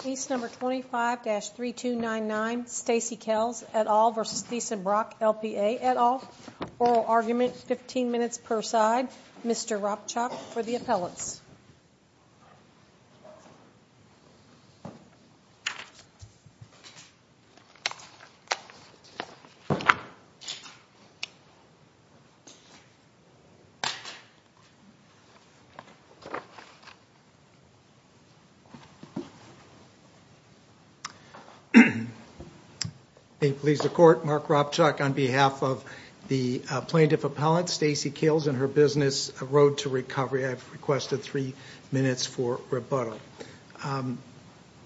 Case number 25-3299 Stacey Cales et al. v. Theisen Brock LPA et al. Oral argument 15 minutes per side. Mr. Ropchak for the appellants. Please the court. Mark Ropchak on behalf of the plaintiff appellant Stacey Cales and her business Road to Recovery. I've requested three minutes for rebuttal.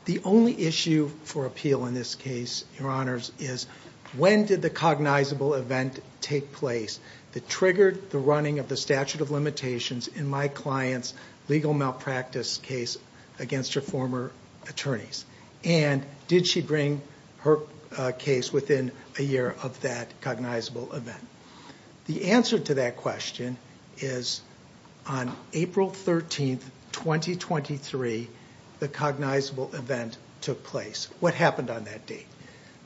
The only issue for appeal in this case, your honors, is when did the cognizable event take place that triggered the running of the statute of limitations in my client's legal malpractice case against her former attorneys? And did she bring her case within a year of that cognizable event? The answer to that question is on April 13th, 2023, the cognizable event took place. What happened on that date?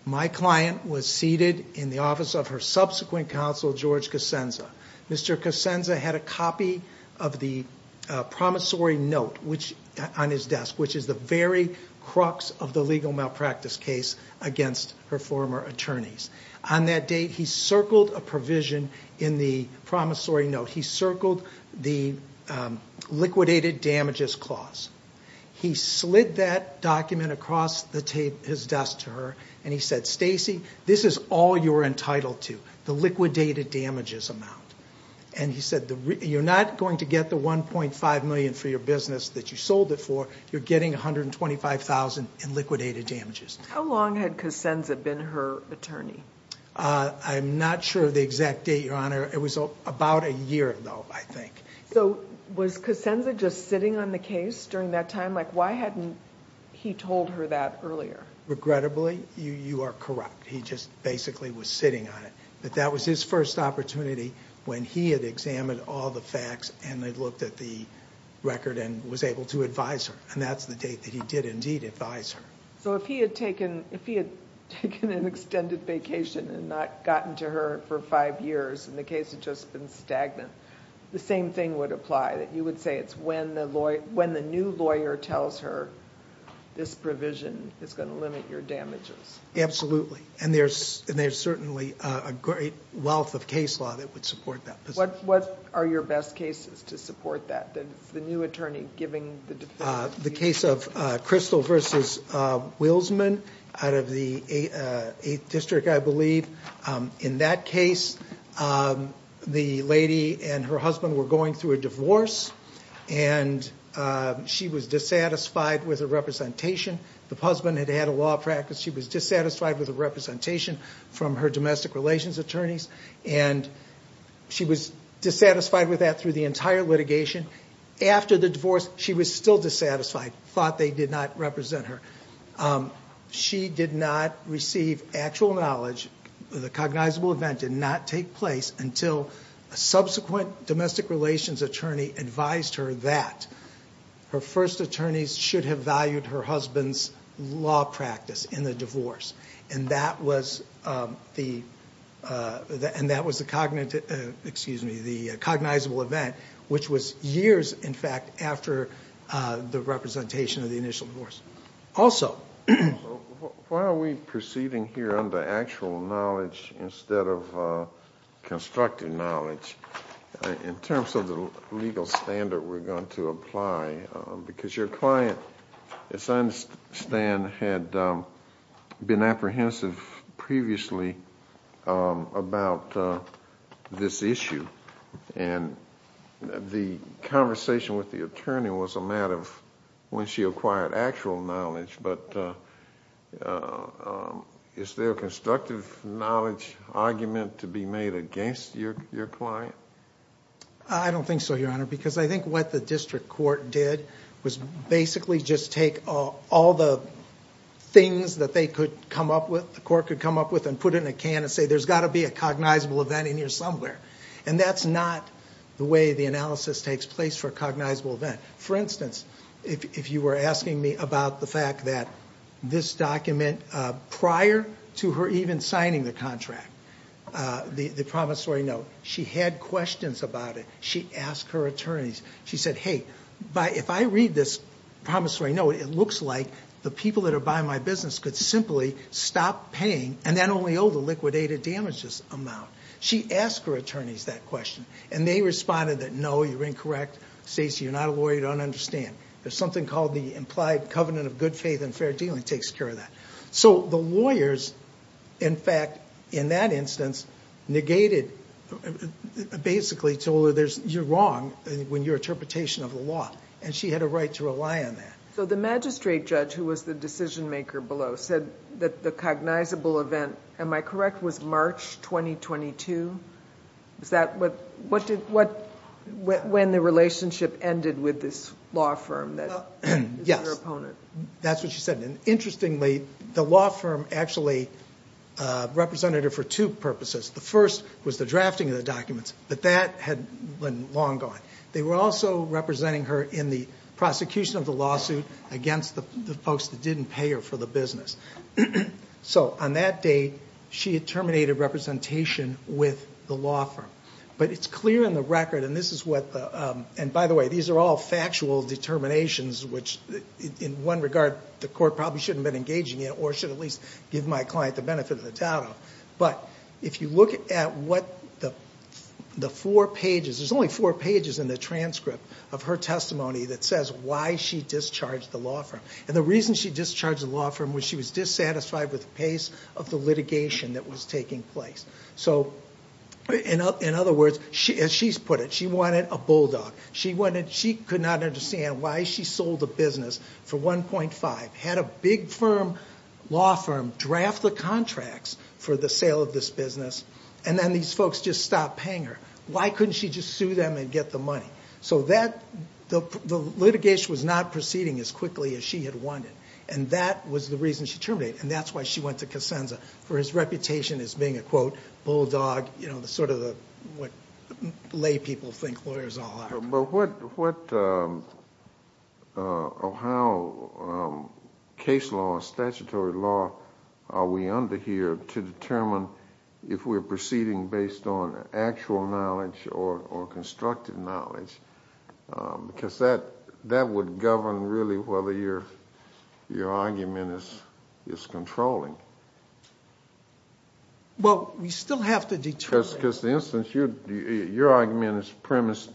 My client was seated in the office of her subsequent counsel, George Cosenza. Mr. Cosenza had a copy of the promissory note on his desk, which is the very crux of the legal malpractice case against her former attorneys. On that date, he circled a provision in the promissory note. He circled the liquidated damages clause. He slid that document across his desk to her, and he said, Stacey, this is all you're entitled to, the liquidated damages amount. And he said, you're not going to get the $1.5 million for your business that you sold it for. You're getting $125,000 in liquidated damages. How long had Cosenza been her attorney? I'm not sure of the exact date, your honor. It was about a year ago, I think. So was Cosenza just sitting on the case during that time? Like, why hadn't he told her that earlier? Regrettably, you are corrupt. He just basically was sitting on it. But that was his first opportunity when he had examined all the facts and had looked at the record and was able to advise her. And that's the date that he did indeed advise her. So if he had taken an extended vacation and not gotten to her for five years, and the case had just been stagnant, the same thing would apply? That you would say it's when the new lawyer tells her this provision is going to limit your damages? Absolutely. And there's certainly a great wealth of case law that would support that position. What are your best cases to support that? The new attorney giving the defense? The case of Crystal versus Wilsman out of the 8th District, I believe. In that case, the lady and her husband were going through a divorce, and she was dissatisfied with her representation. The husband had had a law practice. She was dissatisfied with her representation from her domestic relations attorneys, and she was dissatisfied with that through the entire litigation. After the divorce, she was still dissatisfied, thought they did not represent her. She did not receive actual knowledge. The cognizable event did not take place until a subsequent domestic relations attorney advised her that her first attorneys should have valued her husband's law practice in the divorce. And that was the cognizable event, which was years, in fact, after the representation of the initial divorce. Why are we proceeding here under actual knowledge instead of constructive knowledge? In terms of the legal standard we're going to apply, because your client, as I understand, had been apprehensive previously about this issue. And the conversation with the attorney was a matter of when she acquired actual knowledge, but is there a constructive knowledge argument to be made against your client? I don't think so, Your Honor, because I think what the district court did was basically just take all the things that the court could come up with and put it in a can and say, there's got to be a cognizable event in here somewhere. And that's not the way the analysis takes place for a cognizable event. For instance, if you were asking me about the fact that this document prior to her even signing the contract, the promissory note, she had questions about it. She asked her attorneys, she said, hey, if I read this promissory note, it looks like the people that are buying my business could simply stop paying and then only owe the liquidated damages amount. She asked her attorneys that question, and they responded that, no, you're incorrect, Stacy, you're not a lawyer, you don't understand. There's something called the implied covenant of good faith and fair dealing that takes care of that. So the lawyers, in fact, in that instance, basically told her, you're wrong in your interpretation of the law. And she had a right to rely on that. So the magistrate judge, who was the decision maker below, said that the cognizable event, am I correct, was March 2022? Is that when the relationship ended with this law firm that was her opponent? That's what she said. And interestingly, the law firm actually represented her for two purposes. The first was the drafting of the documents, but that had been long gone. They were also representing her in the prosecution of the lawsuit against the folks that didn't pay her for the business. So on that date, she had terminated representation with the law firm. But it's clear in the record, and this is what the, and by the way, these are all factual determinations, which in one regard the court probably shouldn't have been engaging in, or should at least give my client the benefit of the doubt of. But if you look at what the four pages, there's only four pages in the transcript of her testimony that says why she discharged the law firm. And the reason she discharged the law firm was she was dissatisfied with the pace of the litigation that was taking place. So in other words, as she's put it, she wanted a bulldog. She wanted, she could not understand why she sold a business for 1.5, had a big firm, law firm, draft the contracts for the sale of this business. And then these folks just stopped paying her. Why couldn't she just sue them and get the money? So that, the litigation was not proceeding as quickly as she had wanted. And that was the reason she terminated. And that's why she went to Casenza, for his reputation as being a, quote, bulldog, you know, sort of what lay people think lawyers are. But what, how case law, statutory law are we under here to determine if we're proceeding based on actual knowledge or constructive knowledge? Because that would govern really whether your argument is controlling. Well, we still have to determine. Because the instance, your argument is premised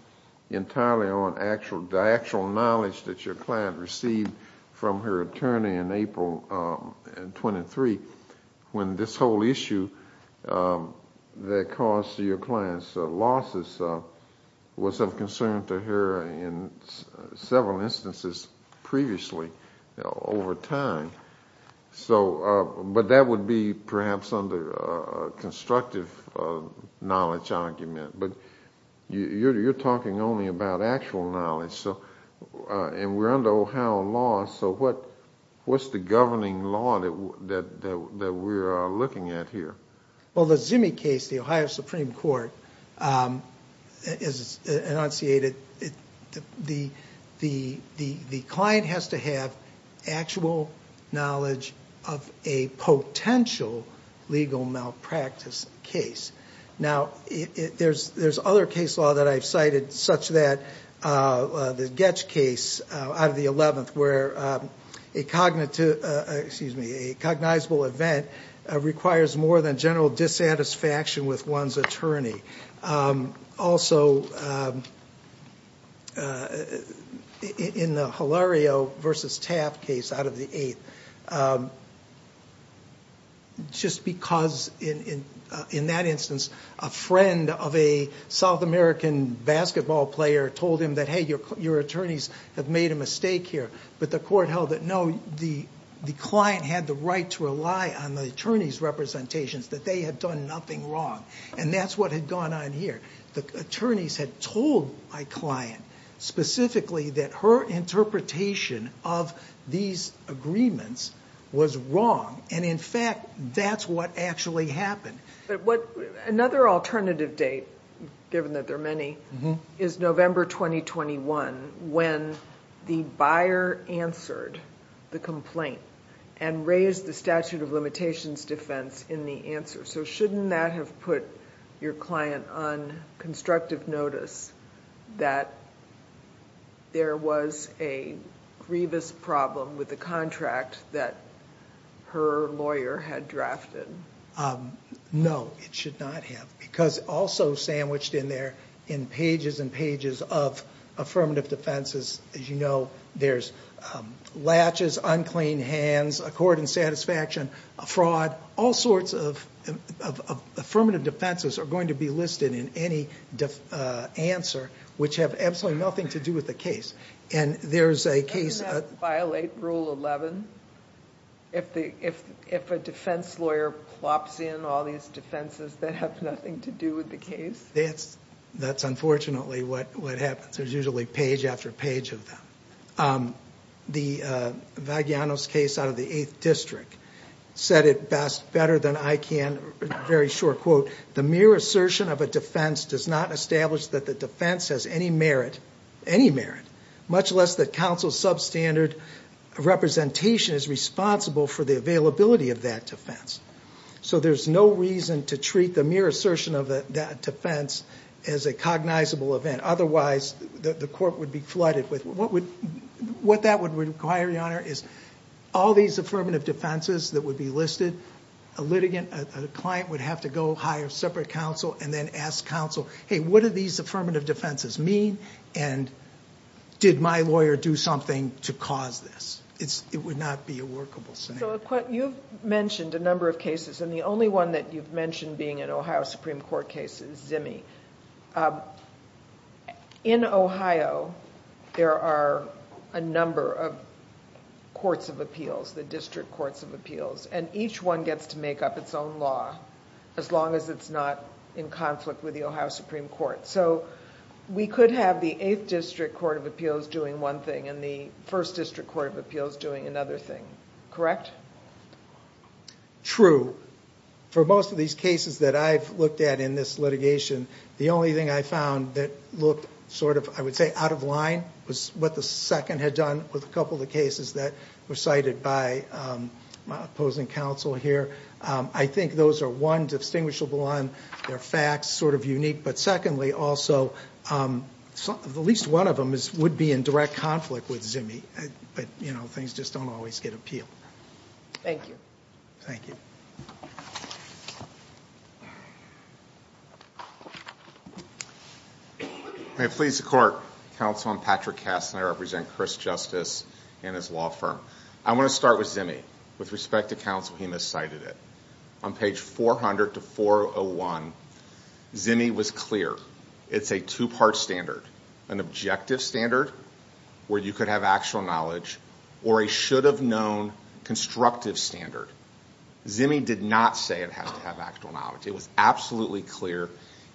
entirely on the actual knowledge that your client received from her attorney in April of 23, when this whole issue that caused your client's losses was of concern to her in several instances previously over time. So, but that would be perhaps under a constructive knowledge argument. But you're talking only about actual knowledge. So, and we're under Ohio law, so what's the governing law that we're looking at here? Well, the Zimmy case, the Ohio Supreme Court, is enunciated, the client has to have actual knowledge of a potential legal malpractice case. Now, there's other case law that I've cited, such that the Getch case out of the 11th, where a cognitive, excuse me, a cognizable event requires more than general dissatisfaction with one's attorney. Also, in the Hilario versus Taft case out of the 8th, just because in that instance, a friend of a South American basketball player told him that, hey, your attorneys have made a mistake here. But the court held that, no, the client had the right to rely on the attorney's representations, that they had done nothing wrong. And that's what had gone on here. The attorneys had told my client specifically that her interpretation of these agreements was wrong. And in fact, that's what actually happened. But what, another alternative date, given that there are many, is November 2021, when the buyer answered the complaint and raised the statute of limitations defense in the answer. So shouldn't that have put your client on constructive notice that there was a grievous problem with the contract that her lawyer had drafted? No, it should not have, because also sandwiched in there in pages and pages of affirmative defenses, as you know, there's latches, unclean hands, accord and satisfaction, a fraud, all sorts of affirmative defenses are going to be listed in any answer, which have absolutely nothing to do with the case. And there's a case- Doesn't that violate Rule 11? If a defense lawyer plops in all these defenses that have nothing to do with the case? That's unfortunately what happens. There's usually page after page of them. The Vagliano's case out of the 8th District said it best, better than I can, very short quote, the mere assertion of a defense does not establish that the defense has any merit, any merit, much less that counsel's substandard representation is responsible for the availability of that defense. So there's no reason to treat the mere assertion of that defense as a cognizable event. Otherwise, the court would be flooded with- What that would require, Your Honor, is all these affirmative defenses that would be listed, a client would have to go hire separate counsel and then ask counsel, hey, what do these affirmative defenses mean, and did my lawyer do something to cause this? It would not be a workable scenario. So you've mentioned a number of cases, and the only one that you've mentioned being an Ohio Supreme Court case is Zimmey. In Ohio, there are a number of courts of appeals, the district courts of appeals, and each one gets to make up its own law as long as it's not in conflict with the Ohio Supreme Court. So we could have the 8th District Court of Appeals doing one thing and the 1st District Court of Appeals doing another thing, correct? True. For most of these cases that I've looked at in this litigation, the only thing I found that looked sort of, I would say, out of line was what the second had done with a couple of the cases that were cited by my opposing counsel here. I think those are, one, distinguishable on their facts, sort of unique, but secondly, also, at least one of them would be in direct conflict with Zimmey, but, you know, things just don't always get appealed. Thank you. Thank you. May it please the Court, Counsel, I'm Patrick Kastner, I represent Chris Justice and his law firm. I want to start with Zimmey. With respect to counsel, he miscited it. On page 400 to 401, Zimmey was clear. It's a two-part standard. An objective standard, where you could have actual knowledge, or a should-have-known constructive standard. Zimmey did not say it has to have actual knowledge. It was absolutely clear,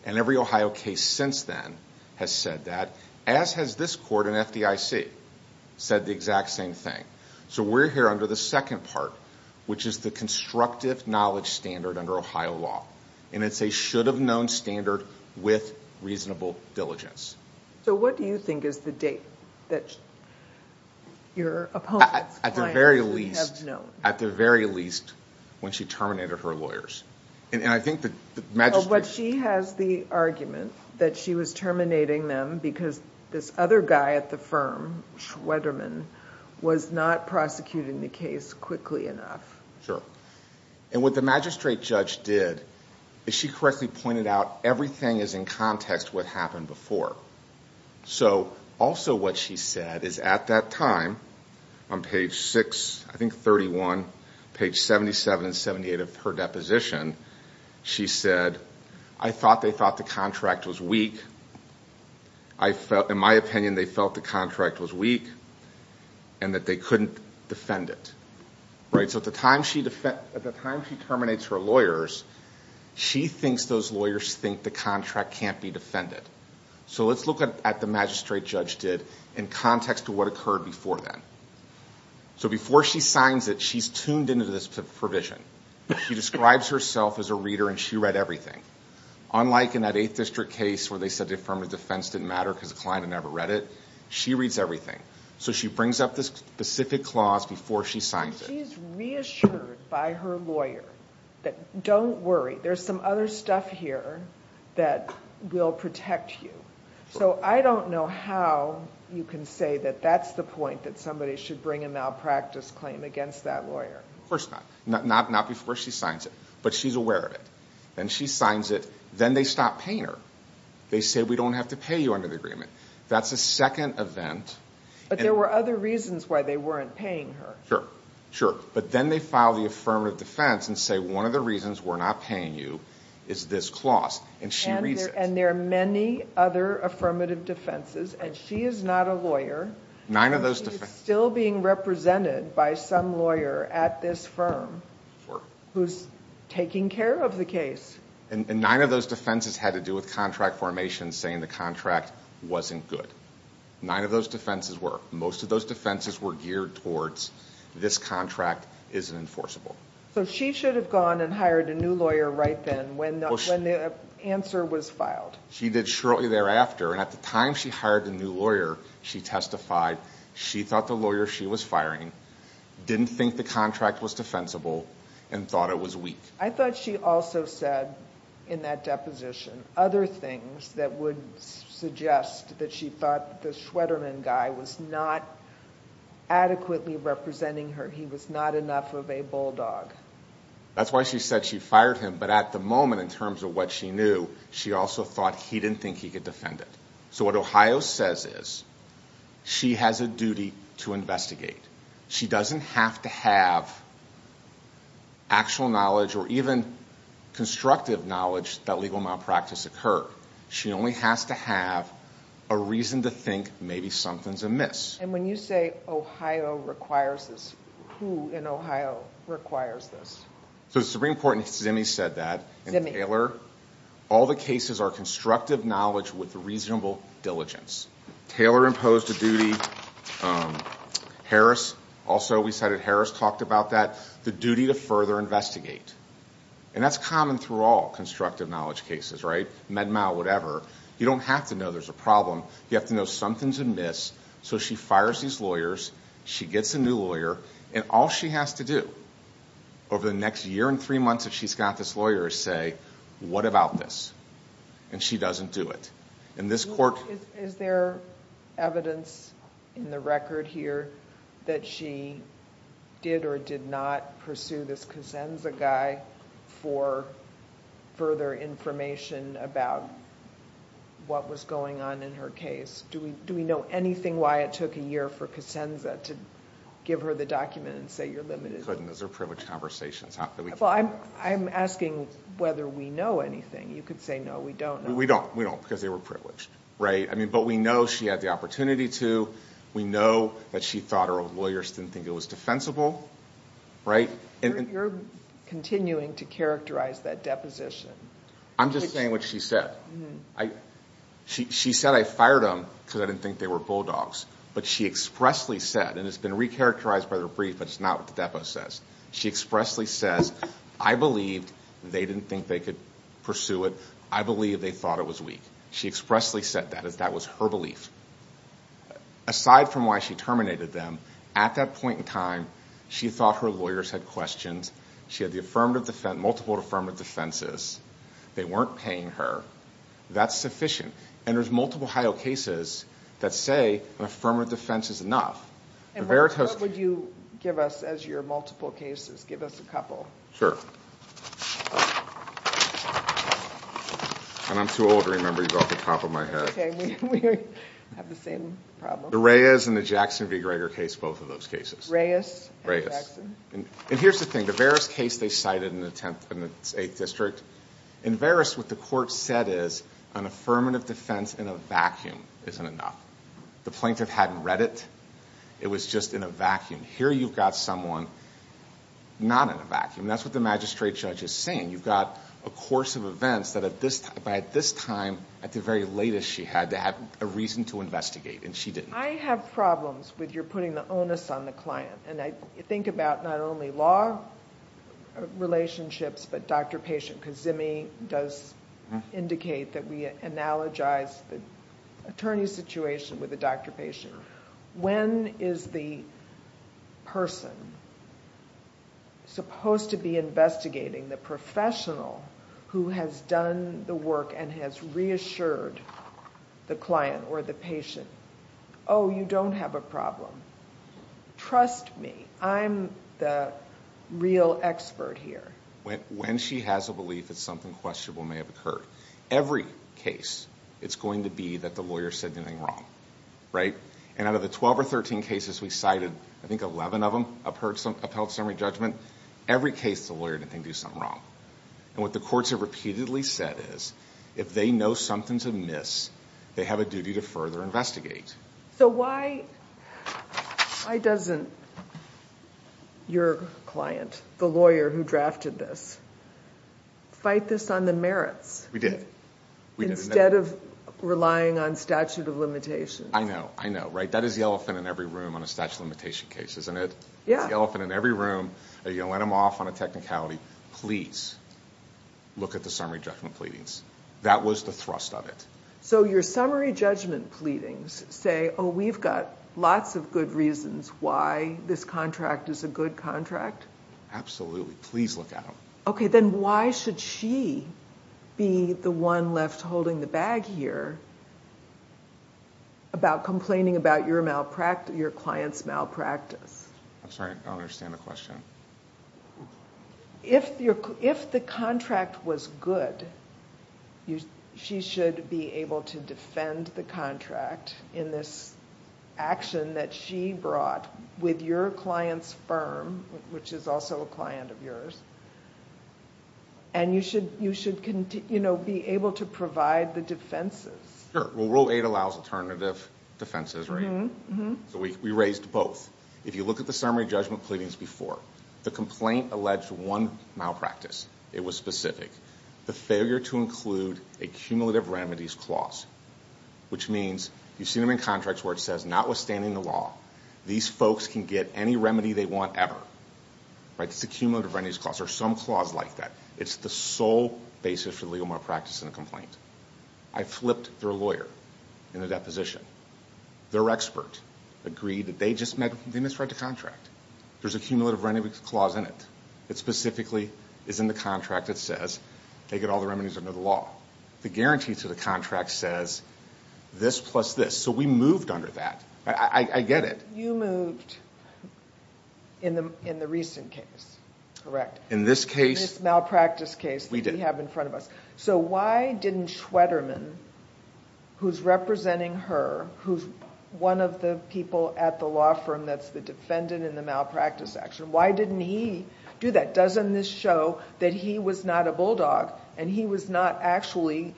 and every Ohio case since then has said that, as has this Court and FDIC said the exact same thing. So we're here under the second part, which is the constructive knowledge standard under Ohio law, and it's a should-have-known standard with reasonable diligence. So what do you think is the date that your opponent's client should have known? At the very least, when she terminated her lawyers. And I think the magistrate— Well, she has the argument that she was terminating them because this other guy at the firm, Schwederman, was not prosecuting the case quickly enough. Sure. And what the magistrate judge did is she correctly pointed out everything is in context with what happened before. So also what she said is at that time, on page 6, I think 31, page 77 and 78 of her deposition, she said, I thought they thought the contract was weak. In my opinion, they felt the contract was weak and that they couldn't defend it. So at the time she terminates her lawyers, she thinks those lawyers think the contract can't be defended. So let's look at what the magistrate judge did in context to what occurred before then. So before she signs it, she's tuned into this provision. She describes herself as a reader and she read everything. Unlike in that 8th District case where they said the affirmative defense didn't matter because the client had never read it, she reads everything. So she brings up this specific clause before she signs it. She's reassured by her lawyer that don't worry, there's some other stuff here that will protect you. So I don't know how you can say that that's the point, that somebody should bring a malpractice claim against that lawyer. Of course not. Not before she signs it. But she's aware of it. Then she signs it. Then they stop paying her. They say, we don't have to pay you under the agreement. That's a second event. But there were other reasons why they weren't paying her. Sure. But then they file the affirmative defense and say, one of the reasons we're not paying you is this clause. And she reads it. And there are many other affirmative defenses. And she is not a lawyer. She is still being represented by some lawyer at this firm who's taking care of the case. And nine of those defenses had to do with contract formations saying the contract wasn't good. Nine of those defenses were. Most of those defenses were geared towards this contract isn't enforceable. So she should have gone and hired a new lawyer right then when the answer was filed. She did shortly thereafter. And at the time she hired a new lawyer, she testified, she thought the lawyer she was firing didn't think the contract was defensible and thought it was weak. I thought she also said in that deposition other things that would suggest that she thought the Shwederman guy was not adequately representing her. He was not enough of a bulldog. That's why she said she fired him. But at the moment in terms of what she knew, she also thought he didn't think he could defend it. So what Ohio says is she has a duty to investigate. She doesn't have to have actual knowledge or even constructive knowledge that legal malpractice occurred. She only has to have a reason to think maybe something's amiss. And when you say Ohio requires this, who in Ohio requires this? So the Supreme Court in Simi said that. In Taylor, all the cases are constructive knowledge with reasonable diligence. Taylor imposed a duty. Harris also, we cited Harris, talked about that, the duty to further investigate. And that's common through all constructive knowledge cases, right? MedMal, whatever. You don't have to know there's a problem. You have to know something's amiss. So she fires these lawyers. She gets a new lawyer. And all she has to do over the next year and three months if she's got this lawyer is say, what about this? And she doesn't do it. Is there evidence in the record here that she did or did not pursue this Cosenza guy for further information about what was going on in her case? Do we know anything why it took a year for Cosenza to give her the document and say you're limited? Those are privileged conversations. I'm asking whether we know anything. You could say no, we don't know. We don't, because they were privileged. But we know she had the opportunity to. We know that she thought her lawyers didn't think it was defensible. You're continuing to characterize that deposition. I'm just saying what she said. She said, I fired them because I didn't think they were bulldogs. But she expressly said, and it's been recharacterized by the brief, but it's not what the depo says. She expressly says, I believed they didn't think they could pursue it. I believe they thought it was weak. She expressly said that. That was her belief. Aside from why she terminated them, at that point in time, she thought her lawyers had questions. She had multiple affirmative defenses. They weren't paying her. That's sufficient. There's multiple HIO cases that say an affirmative defense is enough. What would you give us as your multiple cases? Give us a couple. I'm too old to remember you off the top of my head. We have the same problem. The Reyes and the Jackson v. Gregor case, both of those cases. Reyes and Jackson. Here's the thing. In the Veris case, they cited an attempt in the 8th District. In Veris, what the court said is, an affirmative defense in a vacuum isn't enough. The plaintiff hadn't read it. It was just in a vacuum. Here you've got someone not in a vacuum. That's what the magistrate judge is saying. You've got a course of events that at this time, at the very latest, she had to have a reason to investigate, and she didn't. I have problems with your putting the onus on the client. I think about not only law relationships but doctor-patient. Kazemi does indicate that we analogize the attorney situation with the doctor-patient. When is the person supposed to be investigating the professional who has done the work and has reassured the client or the patient, Oh, you don't have a problem. Trust me. I'm the real expert here. When she has a belief that something questionable may have occurred, every case it's going to be that the lawyer said anything wrong. Out of the 12 or 13 cases we cited, I think 11 of them upheld summary judgment, every case the lawyer didn't do something wrong. What the courts have repeatedly said is, if they know something's amiss, they have a duty to further investigate. Why doesn't your client, the lawyer who drafted this, fight this on the merits? We did. Instead of relying on statute of limitations. I know. I know. That is the elephant in every room on a statute of limitation case, isn't it? Yeah. It's the elephant in every room. You let them off on a technicality. Please look at the summary judgment pleadings. That was the thrust of it. So your summary judgment pleadings say, Oh, we've got lots of good reasons why this contract is a good contract. Absolutely. Please look at them. Okay, then why should she be the one left holding the bag here about complaining about your client's malpractice? I'm sorry. I don't understand the question. If the contract was good, she should be able to defend the contract in this action that she brought with your client's firm, which is also a client of yours, and you should be able to provide the defenses. Sure. Well, Rule 8 allows alternative defenses, right? Mm-hmm. So we raised both. If you look at the summary judgment pleadings before, the complaint alleged one malpractice. It was specific. The failure to include a cumulative remedies clause, which means you've seen them in contracts where it says notwithstanding the law, these folks can get any remedy they want ever, right? It's a cumulative remedies clause or some clause like that. It's the sole basis for the legal malpractice in a complaint. I flipped their lawyer in the deposition. Their expert agreed that they just misread the contract. There's a cumulative remedies clause in it. It specifically is in the contract that says they get all the remedies under the law. The guarantee to the contract says this plus this. So we moved under that. I get it. You moved in the recent case, correct? In this case. In this malpractice case that we have in front of us. We did. So why didn't Schwederman, who's representing her, who's one of the people at the law firm that's the defendant in the malpractice action, why didn't he do that? Doesn't this show that he was not a bulldog and he was not actually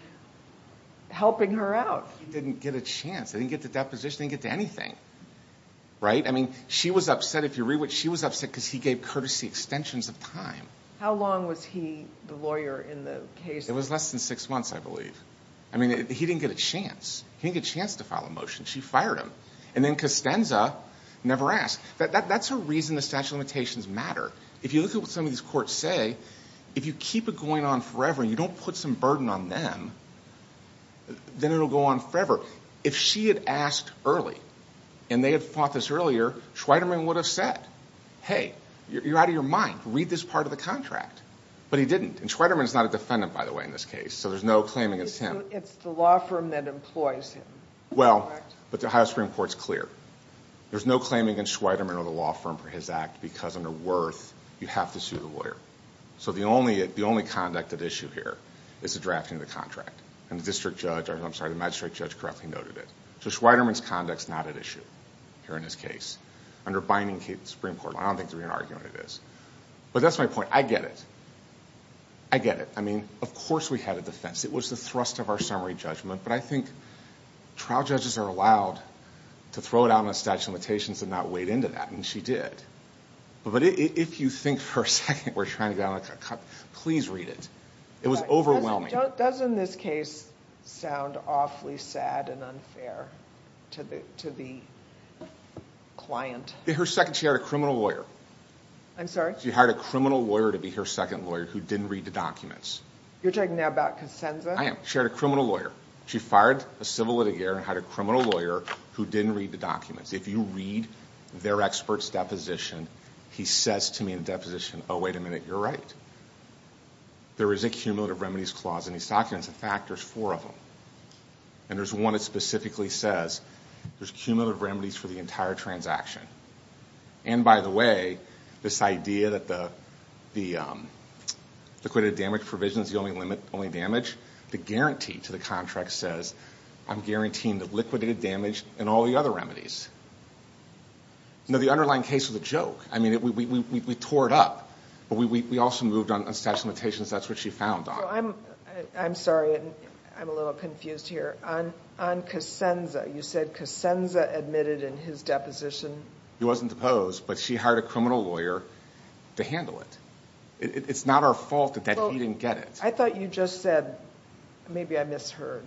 helping her out? He didn't get a chance. They didn't get to deposition. They didn't get to anything, right? I mean, she was upset. If you read what she was upset because he gave courtesy extensions of time. How long was he, the lawyer, in the case? It was less than six months, I believe. I mean, he didn't get a chance. He didn't get a chance to file a motion. She fired him. And then Costanza never asked. That's a reason the statute of limitations matter. If you look at what some of these courts say, if you keep it going on forever and you don't put some burden on them, then it'll go on forever. If she had asked early and they had fought this earlier, Schwederman would have said, hey, you're out of your mind. Read this part of the contract. But he didn't. And Schwederman is not a defendant, by the way, in this case. So there's no claim against him. It's the law firm that employs him. Well, but the Ohio Supreme Court's clear. There's no claim against Schwederman or the law firm for his act because under Wirth, you have to sue the lawyer. So the only conduct at issue here is the drafting of the contract. And the magistrate judge correctly noted it. So Schwederman's conduct's not at issue here in this case. Under binding Supreme Court law, I don't think there'd be an argument it is. But that's my point. I get it. I get it. I mean, of course we had a defense. It was the thrust of our summary judgment. But I think trial judges are allowed to throw it out on a statute of limitations and not wade into that. And she did. But if you think for a second we're trying to get on a cut and cut, please read it. It was overwhelming. Doesn't this case sound awfully sad and unfair to the client? In her second, she hired a criminal lawyer. I'm sorry? She hired a criminal lawyer to be her second lawyer who didn't read the documents. You're talking now about Kosenza? I am. She hired a criminal lawyer. She fired a civil litigator and hired a criminal lawyer who didn't read the documents. If you read their expert's deposition, he says to me in the deposition, oh, wait a minute, you're right. There is a cumulative remedies clause in these documents. In fact, there's four of them. And there's one that specifically says there's cumulative remedies for the entire transaction. And, by the way, this idea that the liquidated damage provision is the only limit, only damage, the guarantee to the contract says I'm guaranteeing the liquidated damage and all the other remedies. No, the underlying case was a joke. I mean, we tore it up. But we also moved on statute of limitations. That's what she found on it. I'm sorry. I'm a little confused here. On Kosenza, you said Kosenza admitted in his deposition. He wasn't deposed, but she hired a criminal lawyer to handle it. It's not our fault that he didn't get it. I thought you just said, maybe I misheard.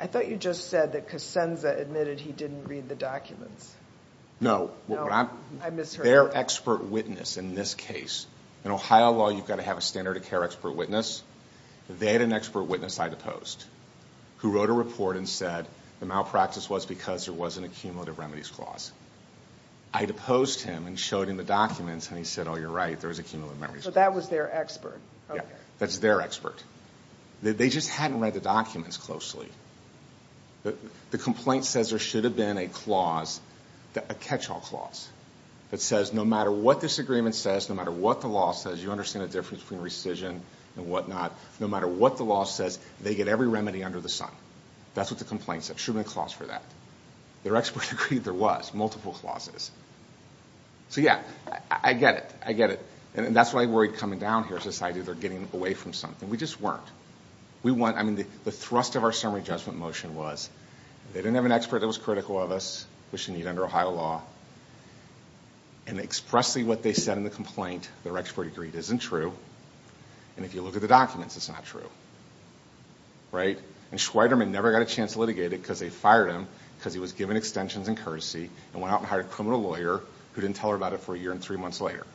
I thought you just said that Kosenza admitted he didn't read the documents. No. I misheard. Their expert witness in this case. In Ohio law, you've got to have a standard of care expert witness. They had an expert witness I deposed who wrote a report and said, the malpractice was because there wasn't a cumulative remedies clause. I deposed him and showed him the documents, and he said, oh, you're right. There was a cumulative remedies clause. But that was their expert. Yeah. That's their expert. They just hadn't read the documents closely. The complaint says there should have been a clause, a catch-all clause, that says no matter what this agreement says, no matter what the law says, you understand the difference between rescission and whatnot, no matter what the law says, they get every remedy under the sun. That's what the complaint said. There should have been a clause for that. Their expert agreed there was multiple clauses. So, yeah, I get it. I get it. And that's why I'm worried coming down here society, they're getting away from something. We just weren't. I mean, the thrust of our summary judgment motion was they didn't have an expert that was critical of us, which you need under Ohio law, and expressly what they said in the complaint, their expert agreed, isn't true. And if you look at the documents, it's not true. Right? And Schweiderman never got a chance to litigate it because they fired him because he was given extensions and courtesy and went out and hired a criminal lawyer who didn't tell her about it for a year and three months later.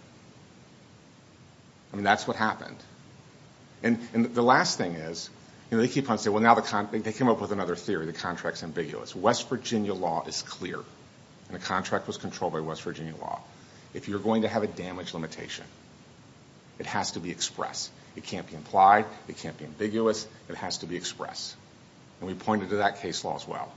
I mean, that's what happened. And the last thing is, you know, they keep on saying, well, now they came up with another theory. The contract's ambiguous. West Virginia law is clear, and the contract was controlled by West Virginia law. If you're going to have a damage limitation, it has to be expressed. It can't be implied. It can't be ambiguous. It has to be expressed. And we pointed to that case law as well.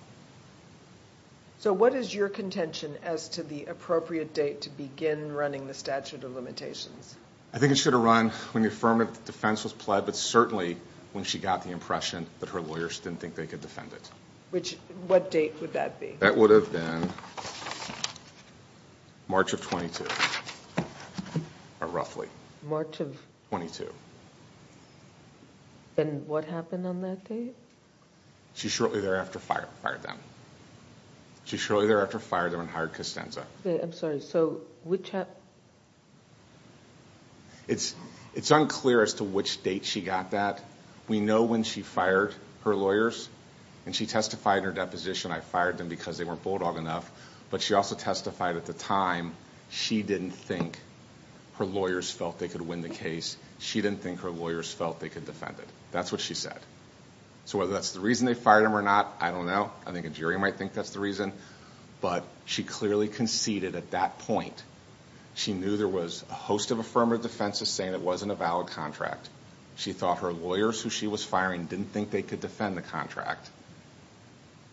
So what is your contention as to the appropriate date to begin running the statute of limitations? I think it should have run when the affirmative defense was pled, but certainly when she got the impression that her lawyers didn't think they could defend it. Which, what date would that be? That would have been March of 22, or roughly. March of? 22. And what happened on that date? She shortly thereafter fired them. She shortly thereafter fired them and hired Costanza. I'm sorry, so which happened? It's unclear as to which date she got that. We know when she fired her lawyers, and she testified in her deposition, I fired them because they weren't bulldog enough, but she also testified at the time she didn't think her lawyers felt they could win the case. She didn't think her lawyers felt they could defend it. That's what she said. So whether that's the reason they fired them or not, I don't know. I think a jury might think that's the reason. But she clearly conceded at that point. She knew there was a host of affirmative defenses saying it wasn't a valid contract. She thought her lawyers, who she was firing, didn't think they could defend the contract.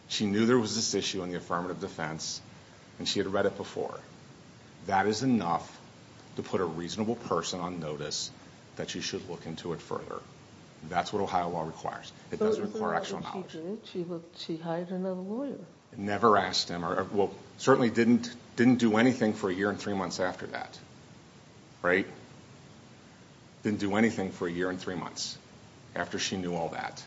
She knew there was this issue in the affirmative defense, and she had read it before. That is enough to put a reasonable person on notice that she should look into it further. That's what Ohio law requires. It doesn't require actual knowledge. She hired another lawyer. Never asked him. Well, certainly didn't do anything for a year and three months after that. Right? Didn't do anything for a year and three months after she knew all that.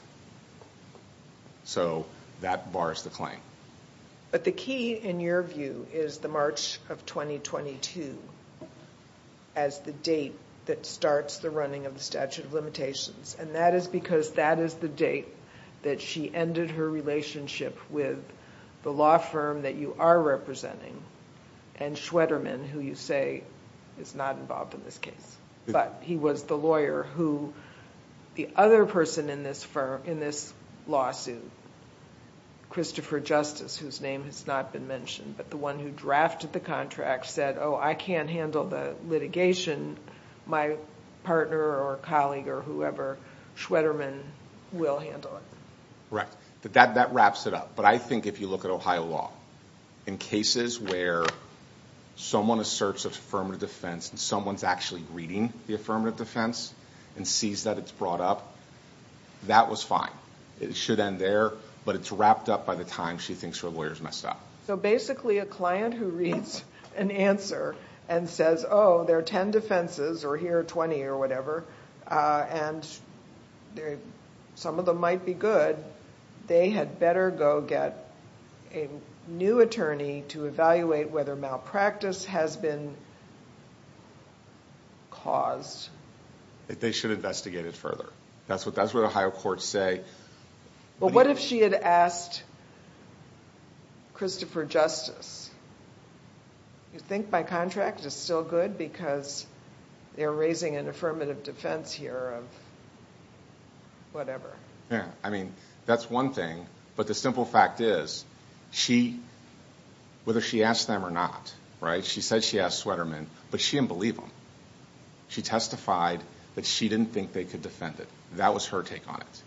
So that bars the claim. But the key, in your view, is the March of 2022 as the date that starts the running of the statute of limitations. And that is because that is the date that she ended her relationship with the law firm that you are representing and Schwederman, who you say is not involved in this case. But he was the lawyer who the other person in this lawsuit, Christopher Justice, whose name has not been mentioned, but the one who drafted the contract, said, oh, I can't handle the litigation. My partner or colleague or whoever, Schwederman, will handle it. Right. That wraps it up. But I think if you look at Ohio law, in cases where someone asserts affirmative defense and someone's actually reading the affirmative defense and sees that it's brought up, that was fine. It should end there, but it's wrapped up by the time she thinks her lawyer's messed up. So basically a client who reads an answer and says, oh, there are 10 defenses or here are 20 or whatever, and some of them might be good, they had better go get a new attorney to evaluate whether malpractice has been caused. They should investigate it further. That's what Ohio courts say. But what if she had asked Christopher Justice? You think by contract it's still good because they're raising an affirmative defense here of whatever. Yeah. I mean, that's one thing. But the simple fact is, whether she asked them or not, right, she said she asked Schwederman, but she didn't believe him. She testified that she didn't think they could defend it. That was her take on it.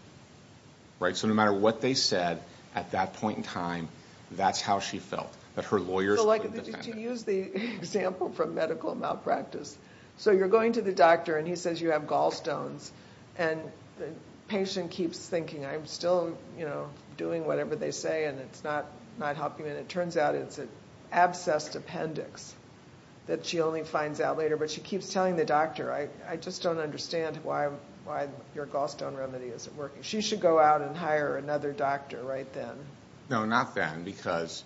Right. So no matter what they said at that point in time, that's how she felt, that her lawyers wouldn't defend it. To use the example from medical malpractice, so you're going to the doctor and he says you have gallstones, and the patient keeps thinking, I'm still doing whatever they say and it's not helping me. And it turns out it's an abscessed appendix that she only finds out later, but she keeps telling the doctor, I just don't understand why your gallstone remedy isn't working. She should go out and hire another doctor right then. No, not then, because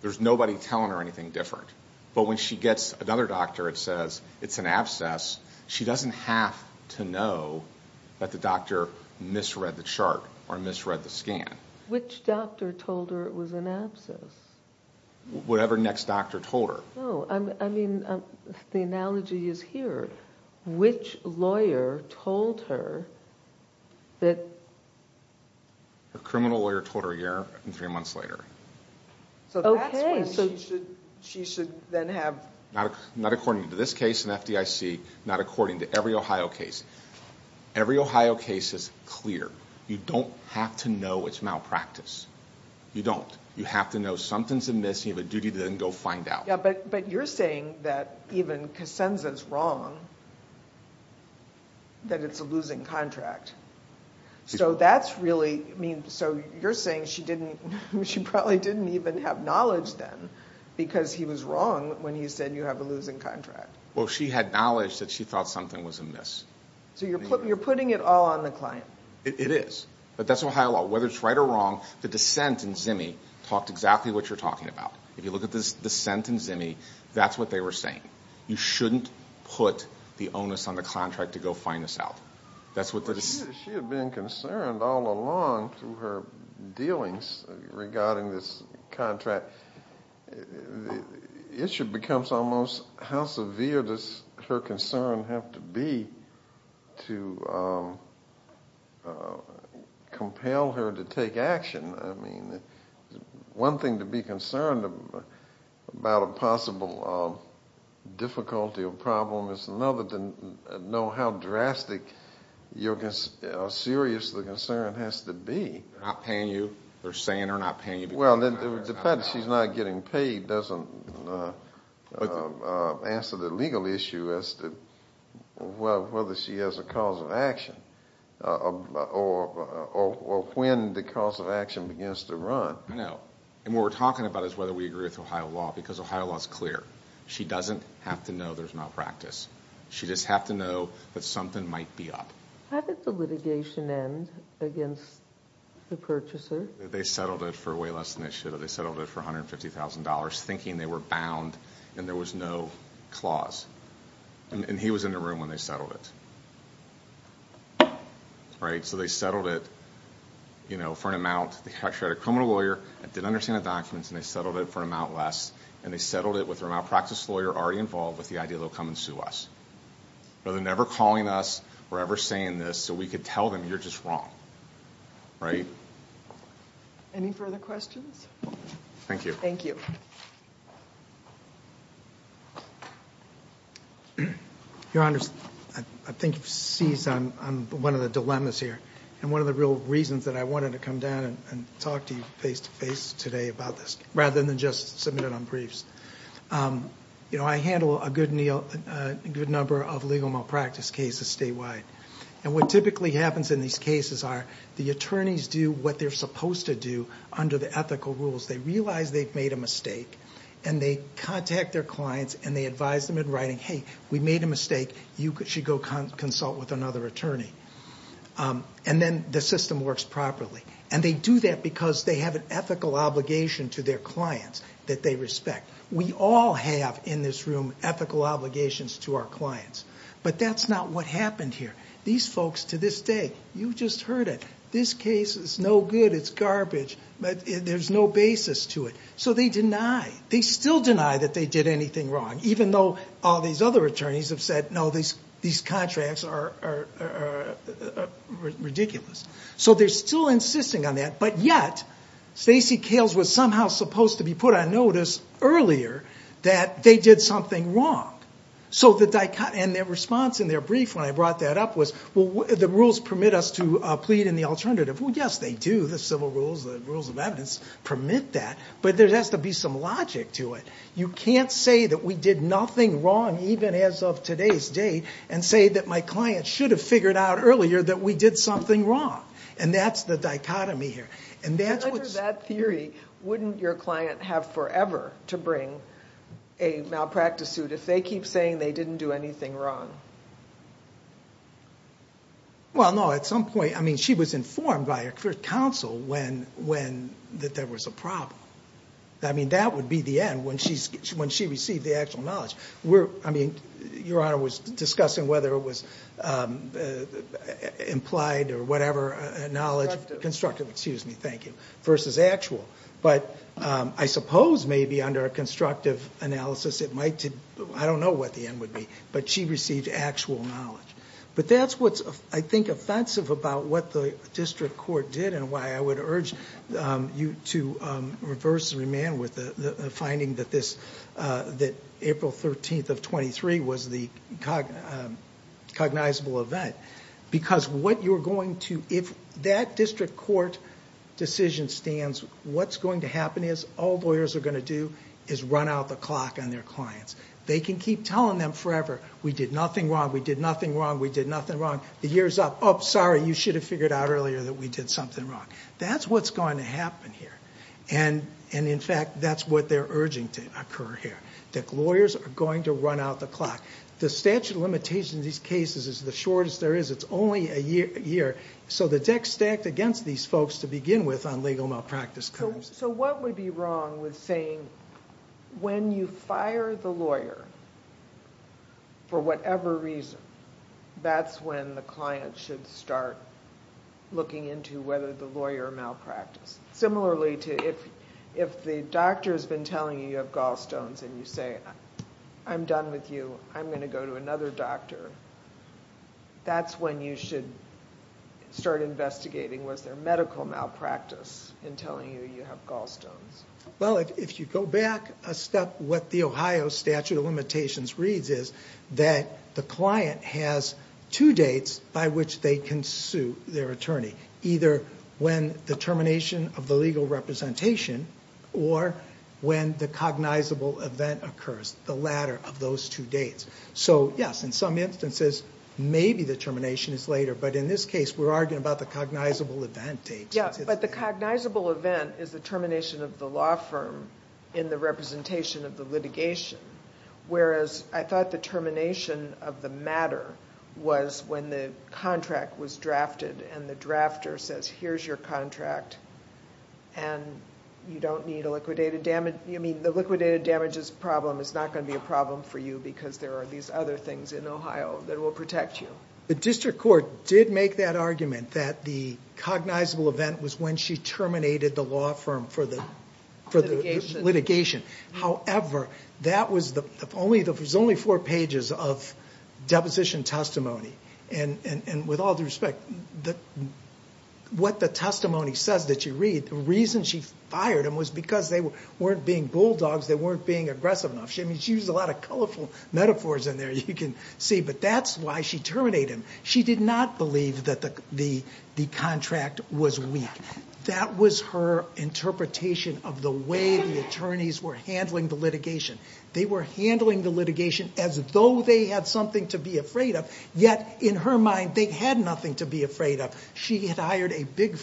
there's nobody telling her anything different. But when she gets another doctor that says it's an abscess, she doesn't have to know that the doctor misread the chart or misread the scan. Which doctor told her it was an abscess? Whatever next doctor told her. No, I mean, the analogy is here. Which lawyer told her that... Her criminal lawyer told her a year and three months later. Okay. So that's when she should then have... Not according to this case and FDIC, not according to every Ohio case. Every Ohio case is clear. You don't have to know it's malpractice. You don't. You have to know something's amiss. You have a duty to then go find out. Yeah, but you're saying that even Casenza's wrong, that it's a losing contract. So that's really... I mean, so you're saying she probably didn't even have knowledge then because he was wrong when he said you have a losing contract. Well, she had knowledge that she thought something was amiss. So you're putting it all on the client. It is. But that's Ohio law. Whether it's right or wrong, the dissent in Zimmy talked exactly what you're talking about. If you look at the dissent in Zimmy, that's what they were saying. You shouldn't put the onus on the contract to go find this out. That's what the... She had been concerned all along through her dealings regarding this contract. The issue becomes almost how severe does her concern have to be to compel her to take action. I mean, one thing to be concerned about a possible difficulty or problem is another to know how drastic or serious the concern has to be. They're not paying you. They're saying they're not paying you because... Well, the fact that she's not getting paid doesn't answer the legal issue as to whether she has a cause of action or when the cause of action begins to run. No. And what we're talking about is whether we agree with Ohio law because Ohio law is clear. She doesn't have to know there's malpractice. She just has to know that something might be up. How did the litigation end against the purchaser? They settled it for way less than they should have. They settled it for $150,000 thinking they were bound and there was no clause. And he was in the room when they settled it. So they settled it for an amount... They actually had a criminal lawyer that didn't understand the documents, and they settled it for an amount less, and they settled it with a malpractice lawyer already involved with the idea they'll come and sue us. Rather than ever calling us or ever saying this so we could tell them you're just wrong, right? Any further questions? Thank you. Thank you. Your Honors, I think you've seized on one of the dilemmas here and one of the real reasons that I wanted to come down and talk to you face-to-face today about this rather than just submit it on briefs. I handle a good number of legal malpractice cases statewide. And what typically happens in these cases are the attorneys do what they're supposed to do under the ethical rules. They realize they've made a mistake, and they contact their clients, and they advise them in writing, hey, we made a mistake. You should go consult with another attorney. And then the system works properly. And they do that because they have an ethical obligation to their clients that they respect. We all have in this room ethical obligations to our clients. But that's not what happened here. These folks to this day, you just heard it. This case is no good. It's garbage. There's no basis to it. So they deny. They still deny that they did anything wrong, even though all these other attorneys have said, no, these contracts are ridiculous. So they're still insisting on that. But yet Stacey Kales was somehow supposed to be put on notice earlier that they did something wrong. And their response in their brief when I brought that up was, well, the rules permit us to plead in the alternative. Well, yes, they do. The civil rules, the rules of evidence permit that. But there has to be some logic to it. You can't say that we did nothing wrong even as of today's date and say that my client should have figured out earlier that we did something wrong. And that's the dichotomy here. Under that theory, wouldn't your client have forever to bring a malpractice suit if they keep saying they didn't do anything wrong? Well, no. At some point, I mean, she was informed by her counsel that there was a problem. I mean, that would be the end when she received the actual knowledge. Your Honor was discussing whether it was implied or whatever knowledge. Constructive, excuse me. Thank you. Versus actual. But I suppose maybe under a constructive analysis, I don't know what the end would be. But she received actual knowledge. But that's what's, I think, offensive about what the district court did and why I would urge you to reverse the remand with the finding that this, that April 13th of 23 was the cognizable event. Because what you're going to, if that district court decision stands, what's going to happen is all lawyers are going to do is run out the clock on their clients. They can keep telling them forever, we did nothing wrong, we did nothing wrong, we did nothing wrong. The year's up. Oh, sorry, you should have figured out earlier that we did something wrong. That's what's going to happen here. And in fact, that's what they're urging to occur here. That lawyers are going to run out the clock. The statute of limitations in these cases is the shortest there is. It's only a year. So the deck's stacked against these folks to begin with on legal malpractice crimes. So what would be wrong with saying when you fire the lawyer for whatever reason, that's when the client should start looking into whether the lawyer malpracticed. Similarly, if the doctor's been telling you you have gallstones and you say, I'm done with you, I'm going to go to another doctor, that's when you should start investigating was there medical malpractice in telling you you have gallstones. Well, if you go back a step, what the Ohio statute of limitations reads is that the client has two dates by which they can sue their attorney, either when the termination of the legal representation or when the cognizable event occurs, the latter of those two dates. So, yes, in some instances maybe the termination is later, but in this case we're arguing about the cognizable event date. Yeah, but the cognizable event is the termination of the law firm in the representation of the litigation, whereas I thought the termination of the matter was when the contract was drafted and the drafter says here's your contract and you don't need a liquidated damage. You mean the liquidated damages problem is not going to be a problem for you because there are these other things in Ohio that will protect you. The district court did make that argument that the cognizable event was when she terminated the law firm for the litigation. However, that was only four pages of deposition testimony, and with all due respect, what the testimony says that you read, the reason she fired them was because they weren't being bulldogs, they weren't being aggressive enough. She used a lot of colorful metaphors in there, you can see, but that's why she terminated them. She did not believe that the contract was weak. That was her interpretation of the way the attorneys were handling the litigation. They were handling the litigation as though they had something to be afraid of, yet in her mind they had nothing to be afraid of. She had hired a big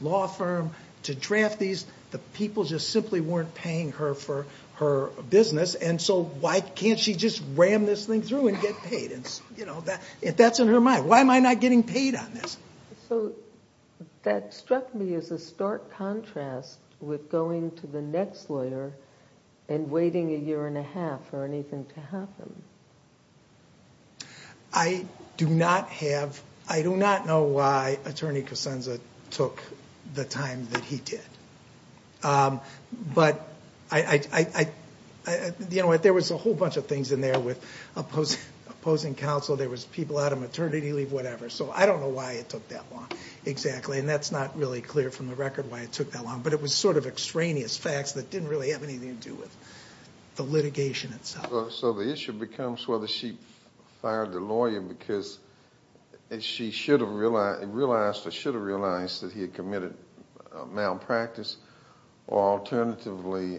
law firm to draft these. The people just simply weren't paying her for her business, and so why can't she just ram this thing through and get paid? That's in her mind. Why am I not getting paid on this? So that struck me as a stark contrast with going to the next lawyer and waiting a year and a half for anything to happen. I do not know why Attorney Kosenza took the time that he did, but there was a whole bunch of things in there with opposing counsel, there was people out of maternity leave, whatever, so I don't know why it took that long exactly, and that's not really clear from the record why it took that long, but it was sort of extraneous facts that didn't really have anything to do with the litigation itself. So the issue becomes whether she fired the lawyer because she should have realized that he had committed malpractice or alternatively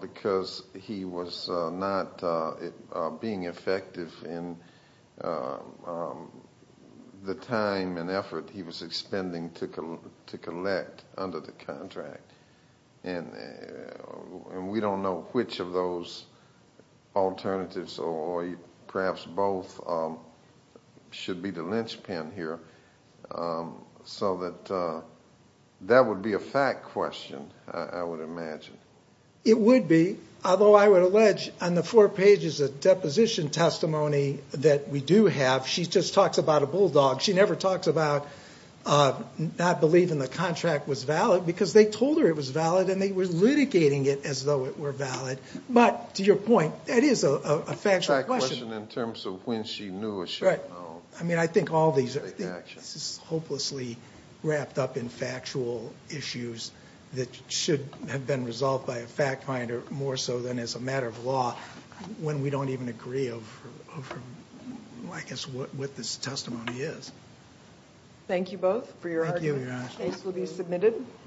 because he was not being effective in the time and effort he was expending to collect under the contract, and we don't know which of those alternatives or perhaps both should be the linchpin here. So that would be a fact question, I would imagine. It would be, although I would allege on the four pages of deposition testimony that we do have, she just talks about a bulldog. She never talks about not believing the contract was valid because they told her it was valid and they were litigating it as though it were valid. But to your point, that is a factual question. A fact question in terms of when she knew or should have known. I mean, I think all these are hopelessly wrapped up in factual issues that should have been resolved by a fact finder more so than as a matter of law when we don't even agree over, I guess, what this testimony is. Thank you both for your argument. Thank you, Your Honor. The case will be submitted.